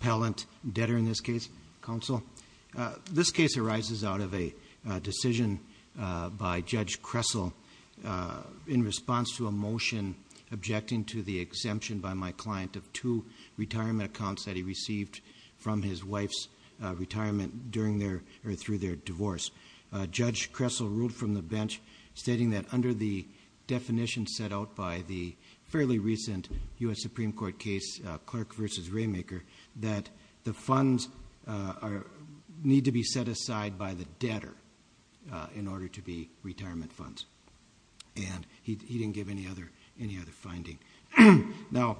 Pallant debtor in this case, counsel. This case arises out of a decision by Judge Kressel in response to a motion objecting to the exemption by my client of two retirement accounts that he received from his wife's retirement during their or through their divorce. Judge Kressel ruled from the bench stating that under the definition set out by the the funds need to be set aside by the debtor in order to be retirement funds. And he didn't give any other any other finding. Now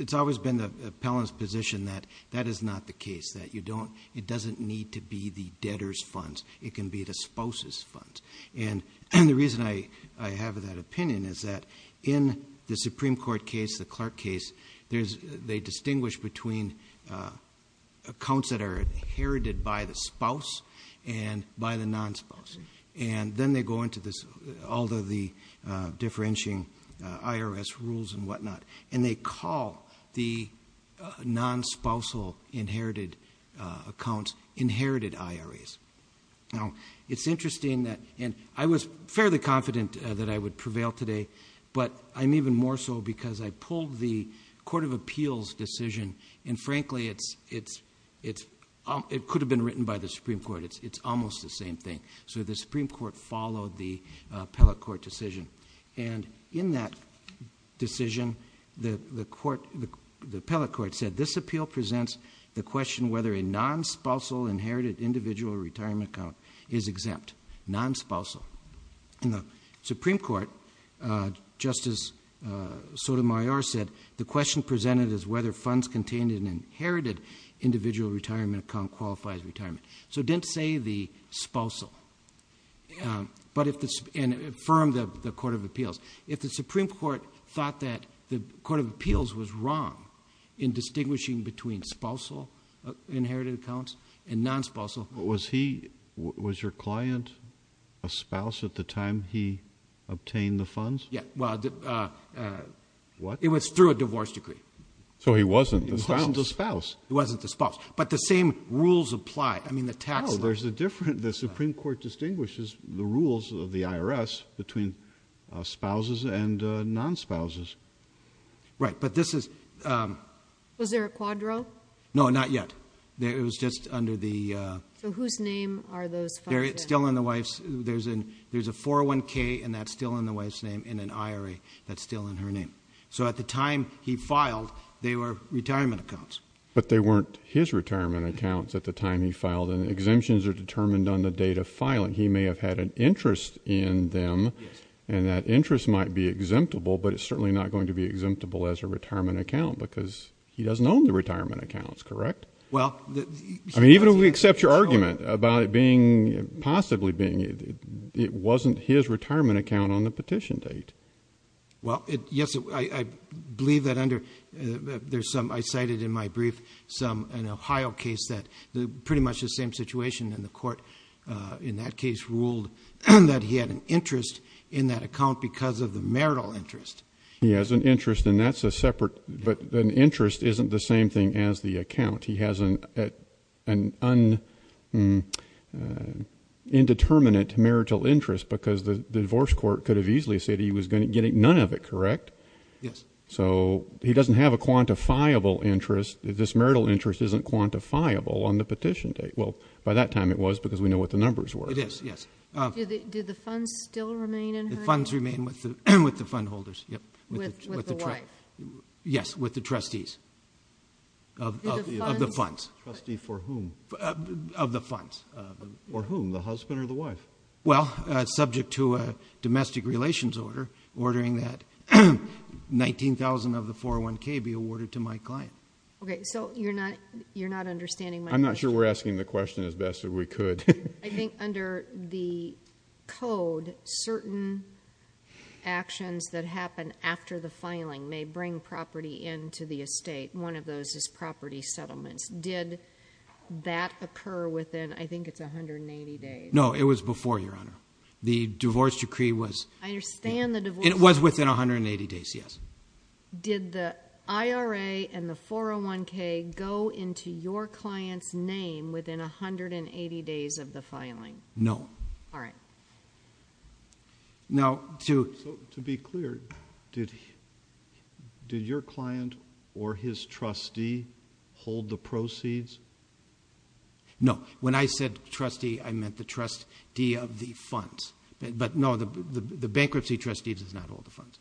it's always been the appellant's position that that is not the case. That you don't it doesn't need to be the debtor's funds. It can be the spouse's funds. And the reason I have that opinion is that in the Supreme Court case, the Clark case, there's they distinguish between accounts that are inherited by the spouse and by the non-spouse. And then they go into this although the differentiating IRS rules and whatnot. And they call the non-spousal inherited accounts inherited IRAs. Now it's interesting that and I was fairly confident that I would prevail today but I'm even more so because I pulled the Court of Appeals decision and frankly it's it's it's it could have been written by the Supreme Court. It's it's almost the same thing. So the Supreme Court followed the appellate court decision and in that decision the the court the appellate court said this appeal presents the question whether a non-spousal inherited individual retirement account is exempt. Non-spousal. In the Supreme Court, Justice Sotomayor said the question presented is whether funds contained in inherited individual retirement account qualifies retirement. So it didn't say the spousal. But if this and affirmed the Court of Appeals. If the Supreme Court thought that the inherited accounts and non-spousal. Was he was your client a spouse at the time he obtained the funds? Yeah well it was through a divorce decree. So he wasn't the spouse? He wasn't the spouse. But the same rules apply. I mean the tax. Oh there's a different the Supreme Court distinguishes the rules of the IRS between spouses and non-spouses. Right but this is. Was there a quadro? No not yet. It was just under the. So whose name are those? There it's still in the wife's. There's an there's a 401k and that's still in the wife's name in an IRA. That's still in her name. So at the time he filed they were retirement accounts. But they weren't his retirement accounts at the time he filed and exemptions are determined on the date of filing. He may have had an interest in them and that interest might be exemptable. But it's certainly not going to be exemptable as a retirement account because he doesn't own the retirement accounts correct? Well. I mean even if we accept your argument about it being possibly being it wasn't his retirement account on the petition date. Well it yes I believe that under there's some I cited in my brief some an Ohio case that the pretty much the same situation and the court in that case ruled that he had an interest in that account because of the marital interest. He has an interest and that's a separate but an interest isn't the same thing as the account. He has an an undetermined marital interest because the divorce court could have easily said he was going to get none of it correct? Yes. So he doesn't have a quantifiable interest. This marital interest isn't quantifiable on the petition date. Well by that time it was because we know what the numbers were. It is yes. Did the funds still remain in her? The funds remain with the fund holders. With the wife? Yes with the trustees of the funds. Trustee for whom? Of the funds. For whom the husband or the wife? Well subject to a domestic relations order ordering that 19,000 of the 401k be awarded to my client. Okay so you're not you're not understanding my question. I'm not under the code certain actions that happen after the filing may bring property into the estate. One of those is property settlements. Did that occur within I think it's 180 days? No it was before your honor. The divorce decree was. I understand the divorce. It was within 180 days yes. Did the IRA and the 401k go into your client's name within 180 days of the filing? No. All right. Now to to be clear did did your client or his trustee hold the proceeds? No when I said trustee I meant the trustee of the funds but no the the bankruptcy trustee does not hold the funds.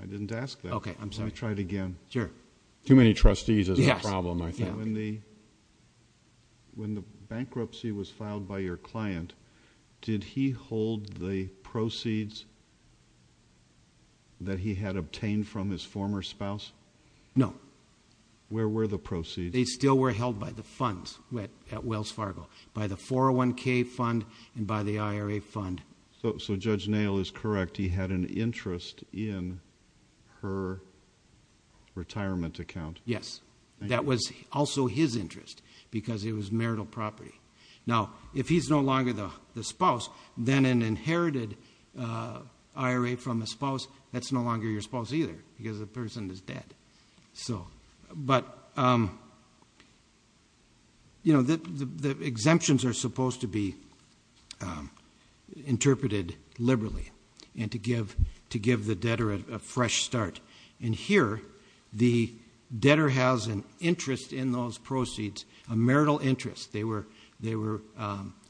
I didn't ask that. Okay I'm sorry. Let me try it again. Sure. Too many trustees is a problem I think. When the when the bankruptcy was filed by your client did he hold the proceeds that he had obtained from his former spouse? No. Where were the proceeds? They still were held by the funds at Wells Fargo by the 401k fund and by the IRA fund. So so Judge Nail is correct he had an interest in her retirement account. Yes that was also his interest because it was marital property. Now if he's no longer the the spouse then an inherited IRA from a spouse that's no longer your spouse either because the person is dead. So but you know the the exemptions are supposed to be interpreted liberally and to give to give the debtor a fresh start and here the debtor has an interest in those proceeds a marital interest they were they were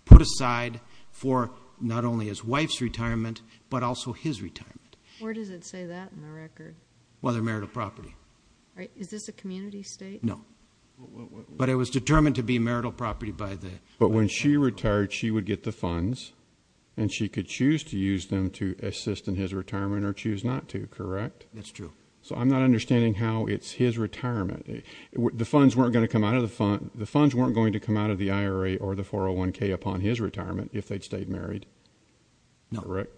put aside for not only his wife's retirement but also his retirement. Where does it say that in the record? Well their marital property. All right is this a community state? No but it was determined to be marital property by the. But when she retired she would get the funds and she could choose to use them to assist in his retirement or choose not to correct? That's true. So I'm not understanding how it's his retirement the funds weren't going to come out of the fund the funds weren't going to come out of the IRA or the 401k upon his retirement if they'd stayed married? No. Correct.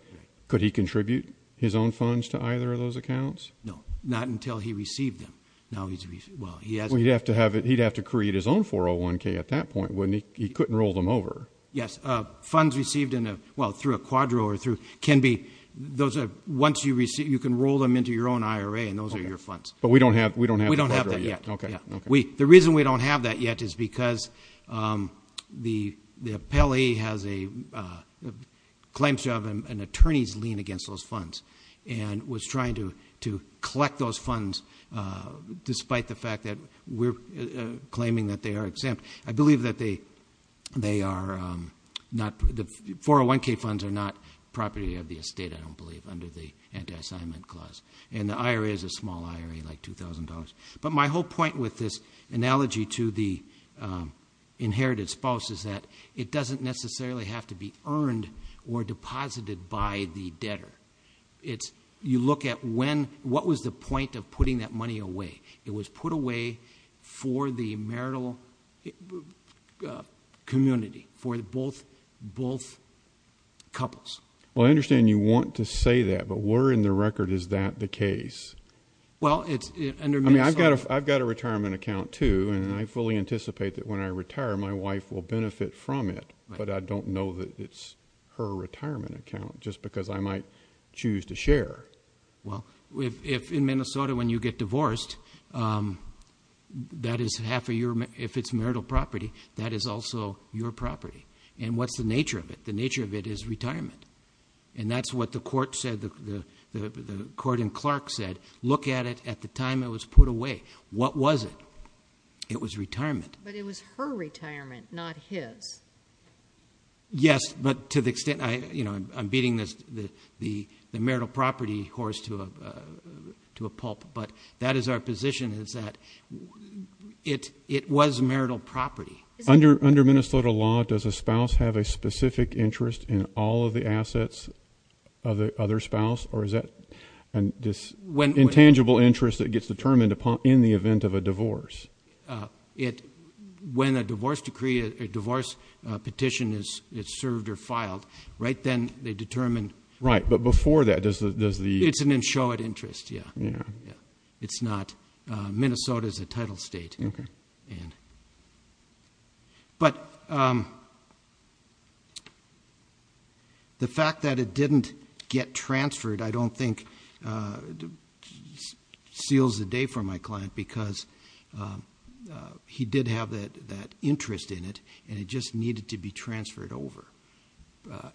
Could he contribute his own funds to either of those accounts? No not until he received them now he's well he has. He'd have to have it he'd have to create his own 401k at that point wouldn't he he couldn't roll them over? Yes funds received in a well through a quadro or through can be those are once you receive you can roll them into your own IRA and those are your funds. But we don't have we don't have. We don't have that yet. Okay yeah. We the reason we don't have that yet is because the the appellee has a claims job an attorney's lien against those funds and was trying to to collect those funds despite the fact that we're claiming that they are exempt. I believe that they they are not the 401k funds are not property of the estate I don't believe under the anti-assignment clause and the IRA is a small IRA like two thousand dollars. But my whole point with this analogy to the inherited spouse is that it doesn't necessarily have to be earned or deposited by the debtor. It's you look at when what was the point of putting that money away it was put away for the marital community for the both both couples. Well I understand you want to say that but we're in the record is that the case? Well it's under I mean I've got a I've got a retirement account too and I fully anticipate that when I retire my wife will benefit from it but I don't know that it's her retirement account just because I might choose to share. Well if in Minnesota when you get divorced that is half a year if it's marital property that is also your property and what's the nature of it the nature of it is retirement and that's what the court said the the the court in Clark said look at it at the time it was put away what was it it was retirement. But it was her retirement not his. Yes but to the extent I you know I'm beating this the the the marital property horse to a to a pulp but that is our position is that it it was marital property. Under under Minnesota law does a spouse have a specific interest in all of the assets of the other spouse or is that and this when intangible interest that gets determined upon in the event of a divorce? It when a divorce decree a divorce petition is it's served or filed right then they determine. Right but before that does the does the. It's an insured interest yeah yeah it's not Minnesota is a title state. Okay. But the fact that it didn't get transferred I don't think seals the day for my client because he did have that that interest in it and it just needed to be transferred over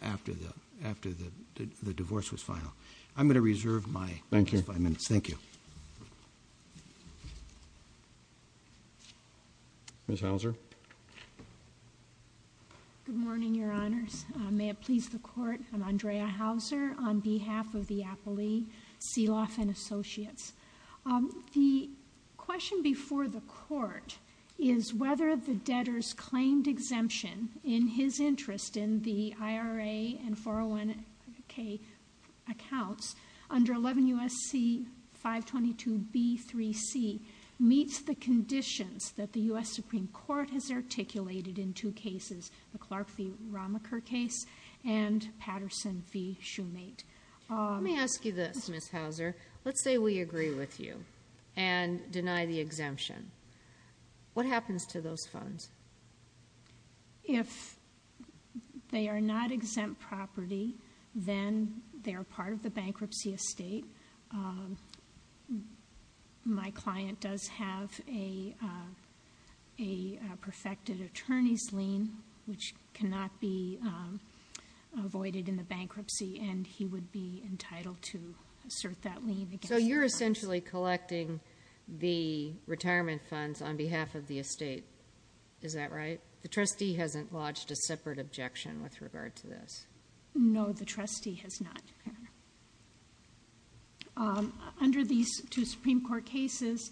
after the after the divorce was final. I'm going to reserve my thank you five minutes thank you. Ms. Hauser. Good morning your honors may it please the court I'm Andrea Hauser on behalf of the appellee Seelof and Associates. The question before the court is whether the debtors claimed exemption in his interest in the IRA and 401k accounts under 11 U.S.C. 522b3c meets the conditions that the U.S. Supreme Court has Patterson v. Shoemate. Let me ask you this Ms. Hauser let's say we agree with you and deny the exemption what happens to those funds? If they are not exempt property then they are part of the bankruptcy estate my client does have a perfected attorney's lien which cannot be avoided in the bankruptcy and he would be entitled to assert that lien. So you're essentially collecting the retirement funds on behalf of the estate is that right? The trustee hasn't lodged a separate objection with regard to this. No the trustee has not. Under these two Supreme Court cases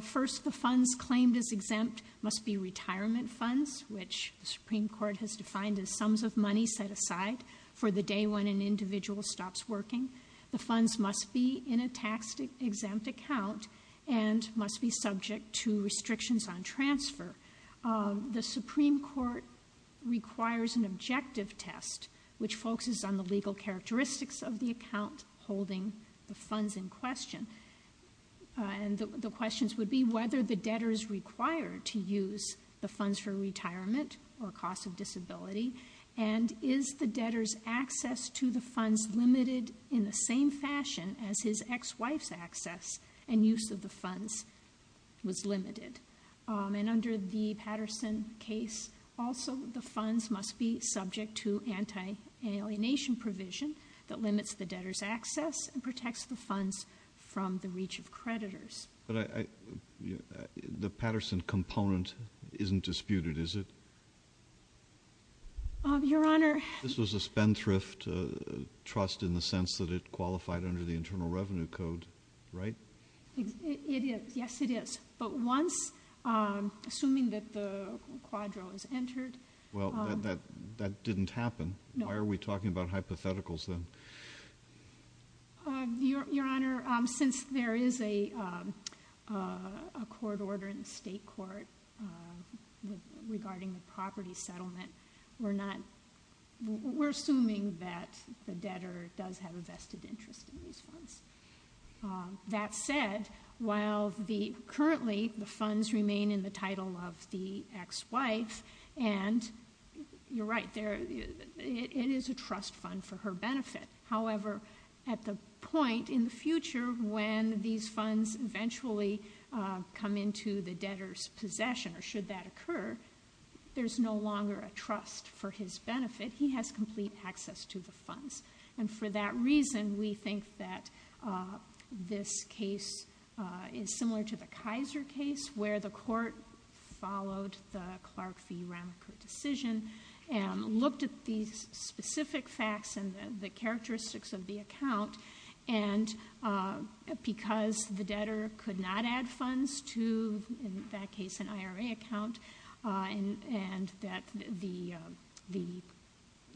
first the funds claimed as exempt must be retirement funds which the Supreme Court has defined as sums of money set aside for the day when an individual stops working. The funds must be in a tax exempt account and must be subject to restrictions on transfer. The Supreme Court requires an objective test which focuses on the legal characteristics of the account holding the funds in question and the questions would be whether the debtors required to use the funds for retirement or cost of disability and is the debtor's access to the funds limited in the same fashion as his ex-wife's access and use of the funds was limited and under the Patterson case also the funds must be subject to anti-alienation provision that limits the debtor's access and protects the funds from the reach of creditors. But I the Patterson component isn't disputed is it? Your Honor this was a spendthrift trust in the sense that it qualified under the Internal Revenue Code right? It is yes it is but once assuming that the quadro is entered. Well that that didn't happen why are we talking about hypotheticals then? Your Honor since there is a a court order in the state court regarding the property settlement we're not we're assuming that the debtor does have a vested interest in these funds. That said while the currently the funds remain in the title of the ex-wife and you're right there it is a trust fund for her benefit. However at the point in the future when these funds eventually come into the debtor's possession or should that occur there's no longer a trust for his benefit. He has complete access to the funds and for that reason we think that this case is similar to the Clark v. Ramacou decision and looked at these specific facts and the characteristics of the account and because the debtor could not add funds to in that case an IRA account and and that the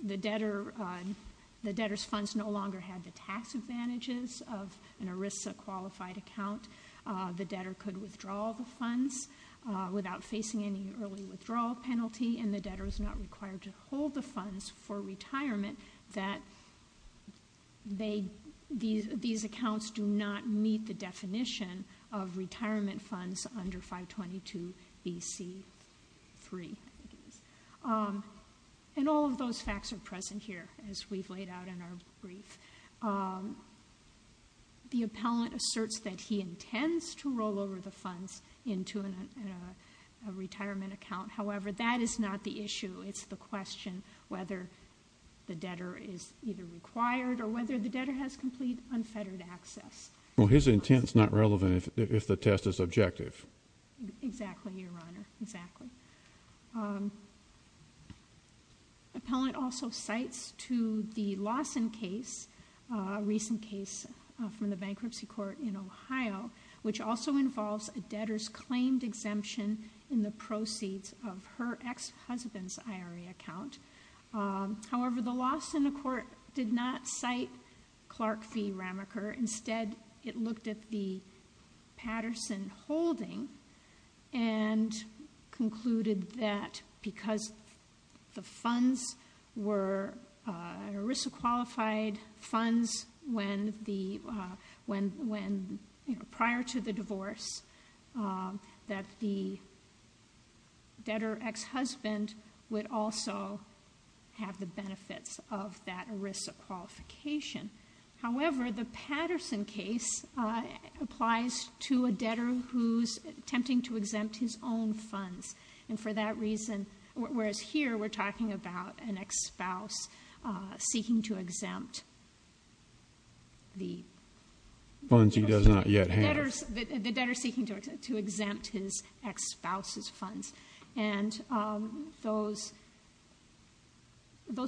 the debtor the debtor's funds no longer had the tax advantages of an ERISA qualified account. The debtor could withdraw the funds without facing any early withdrawal penalty and the debtor is not required to hold the funds for retirement that they these these accounts do not meet the definition of retirement funds under 522bc3. And all of those facts are present here as we've laid out in our brief. The appellant asserts that he intends to roll over the funds into a retirement account. However that is not the issue it's the question whether the debtor is either required or whether the debtor has complete unfettered access. Well his intent is not relevant if the test is objective. Exactly your honor exactly. The appellant also cites to the Lawson case a recent case from the bankruptcy court in Ohio which also involves a debtor's claimed exemption in the proceeds of her ex-husband's IRA account. However the Lawson court did not cite Clark v. Ramacou. Instead it looked at the Patterson holding and concluded that because the funds were ERISA qualified funds when the when when prior to the divorce that the debtor ex-husband would also have the benefits of that ERISA qualification. However the Patterson case applies to a debtor who's attempting to exempt his own funds and for that reason whereas here we're talking about an ex-spouse seeking to exempt the funds he does not yet have. The debtor seeking to exempt his ex-spouse's funds and those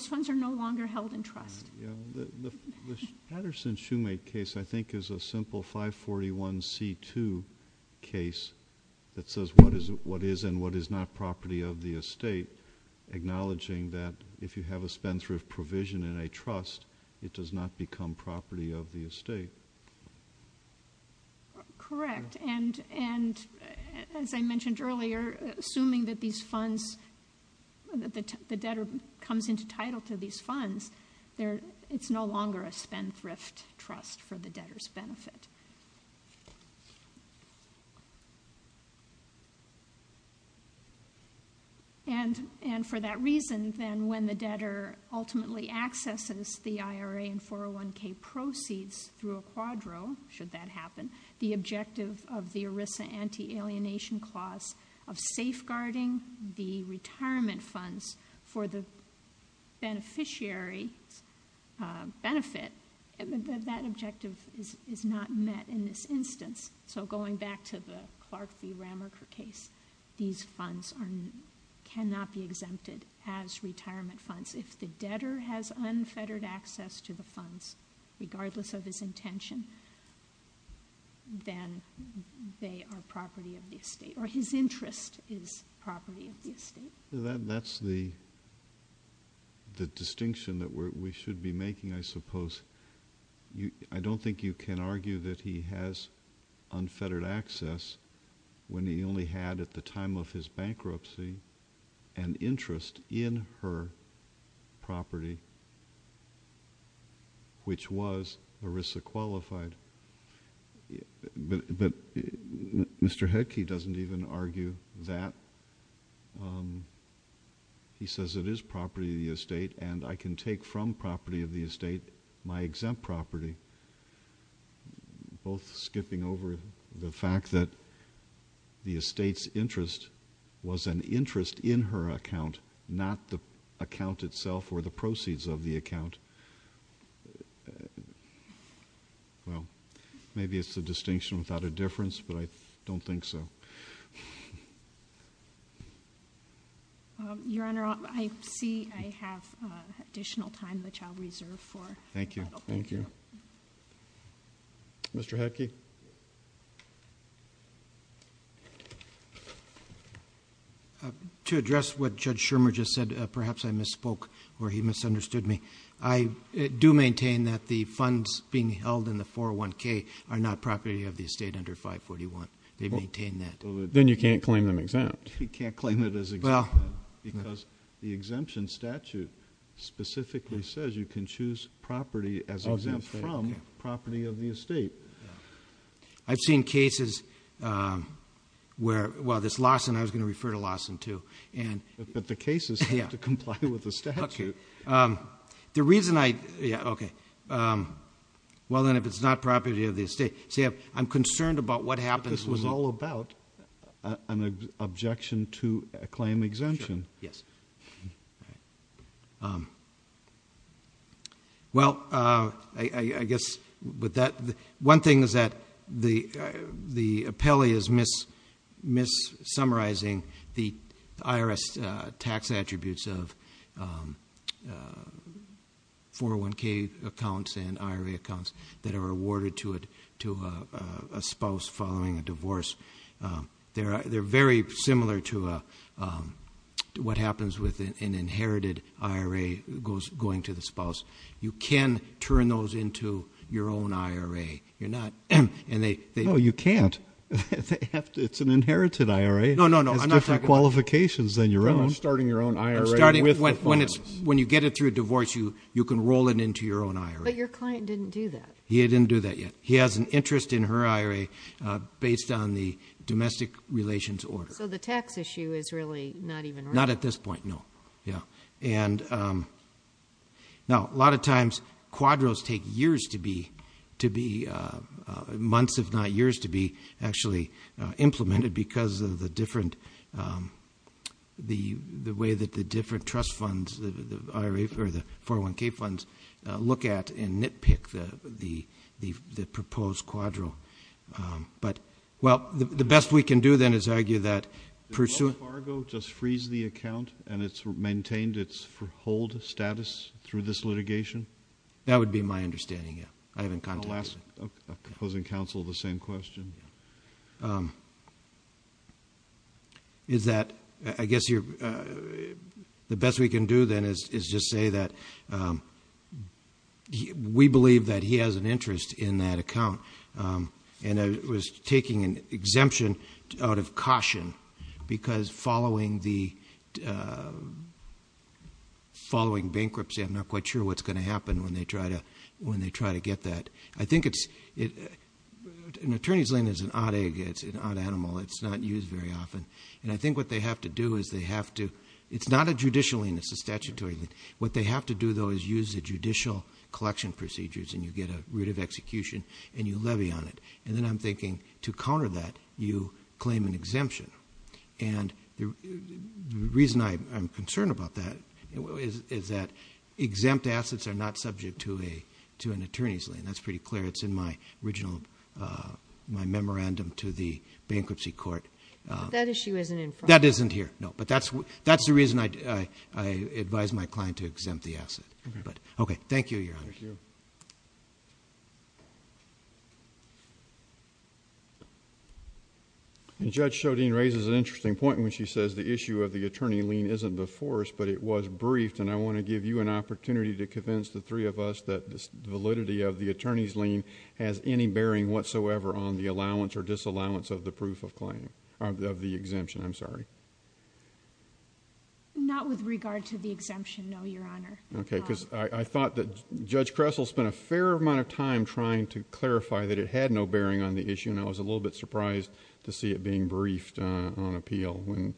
funds are no longer held in trust. Yeah the Patterson Shoemake case I think is a simple 541 c2 case that says what is what is and what is not property of the estate acknowledging that if you have a spendthrift provision in a trust it does not become property of the estate. Correct and and as I mentioned earlier assuming that these funds that the debtor comes into title to these funds there it's no longer a spendthrift trust for the debtor's benefit. And and for that reason then when the debtor ultimately accesses the IRA and 401k proceeds through a quadro should that happen the objective of the ERISA anti-alienation clause of safeguarding the retirement funds for the beneficiary benefit that that objective is is not met in this instance. So going back to the Clark v. Ramacher case these funds are cannot be exempted as retirement funds if the debtor has unfettered access to the funds regardless of his intention then they are property of the estate or his interest is property of the estate. So that that's the the distinction that we should be making I suppose you I don't think you can argue that he has unfettered access when he only had at the was ERISA qualified but but Mr. Headke doesn't even argue that he says it is property of the estate and I can take from property of the estate my exempt property both skipping over the fact that the estate's interest was an interest in her account not the account itself or the proceeds of the account well maybe it's a distinction without a difference but I don't think so your honor I see I have additional time which I'll reserve for thank you thank you Mr. Headke uh to address what Judge Shermer just said perhaps I misspoke or he misunderstood me I do maintain that the funds being held in the 401k are not property of the estate under 541 they maintain that then you can't claim them exempt you can't claim it as well because the exemption statute specifically says you can choose property as exempt from property of the estate I've seen cases where well this Lawson I was going to refer to Lawson too and but the cases have to comply with the statute the reason I yeah okay well then if it's not property of the estate see I'm concerned about what happens was all about an objection to a claim exemption yes right um well uh I I guess with that one thing is that the the appellee is miss miss summarizing the IRS tax attributes of 401k accounts and IRA accounts that are awarded to it a spouse following a divorce they're they're very similar to a what happens with an inherited IRA goes going to the spouse you can turn those into your own IRA you're not and they they know you can't they have to it's an inherited IRA no no no I'm not talking qualifications than your own starting your own IRA starting with when it's when you get it through a divorce you you can roll it into your own IRA but your client didn't do that he didn't do that yet he has an interest in her IRA based on the domestic relations order so the tax issue is really not even not at this point no yeah and um now a lot of times quadros take years to be to be uh months if not years to be actually implemented because of the different um the the way that the different trust funds the IRA for the 401k funds look at and nitpick the the the proposed quadro um but well the best we can do then is argue that pursuant cargo just freeze the account and it's maintained its hold status through this litigation that would be my understanding yeah I haven't contacted proposing counsel the same question um is that I guess you're uh the best we can do then is is just say that um he we believe that he has an interest in that account um and I was taking an exemption out of caution because following the uh following bankruptcy I'm not quite sure what's going to happen when they try to when they try to get that I think it's it an attorney's lien is an odd egg it's an odd animal it's not used very often and I think what they have to do is they have to it's not a judicial lien it's a statutory what they have to do though is use the judicial collection procedures and you get a route of execution and you levy on it and then I'm thinking to counter that you claim an exemption and the reason I'm concerned about that is is that exempt assets are not subject to a to an attorney's lien that's pretty clear it's in my original uh my memorandum to the bankruptcy court uh that issue isn't in that isn't here no but that's that's the reason I I advise my client to exempt the asset but okay thank you your honor and judge showed in raises an interesting point when she says the issue of the attorney lien isn't before us but it was briefed and I want to give you an opportunity to convince the three of us that this validity of the attorney's has any bearing whatsoever on the allowance or disallowance of the proof of claim of the exemption I'm sorry not with regard to the exemption no your honor okay because I I thought that judge Kressel spent a fair amount of time trying to clarify that it had no bearing on the issue and I was a little bit surprised to see it being briefed uh on appeal when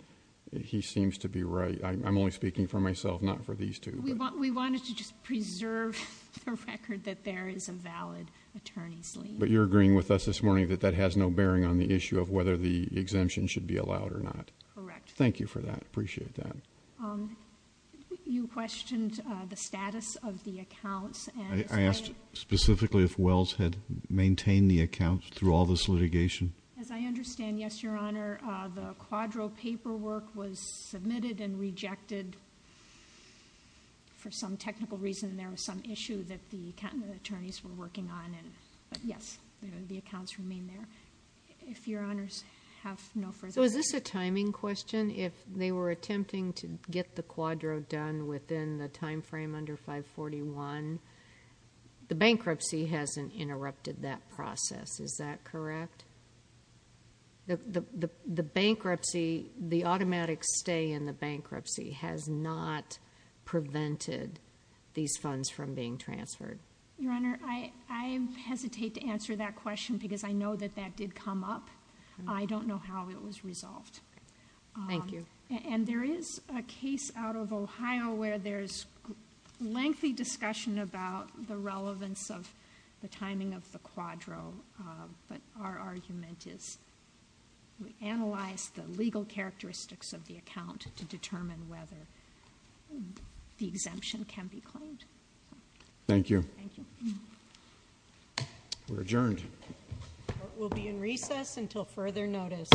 he seems to be right I'm only speaking for myself not for these two we want we wanted to just attorneys leave but you're agreeing with us this morning that that has no bearing on the issue of whether the exemption should be allowed or not correct thank you for that appreciate that um you questioned uh the status of the accounts and I asked specifically if wells had maintained the account through all this litigation as I understand yes your honor uh the quadro paperwork was submitted and rejected for some technical reason there was some issue that the accountant attorneys were working on and but yes the accounts remain there if your honors have no further so is this a timing question if they were attempting to get the quadro done within the time frame under 541 the bankruptcy hasn't interrupted that process is that correct the the the bankruptcy the automatic stay in the bankruptcy has not prevented these funds from being transferred your honor I I hesitate to answer that question because I know that that did come up I don't know how it was resolved thank you and there is a case out of Ohio where there's lengthy discussion about the relevance of the timing of the quadro but our argument is we analyze the legal characteristics of the account to determine whether the exemption can be claimed thank you we're adjourned we'll be in recess until further notice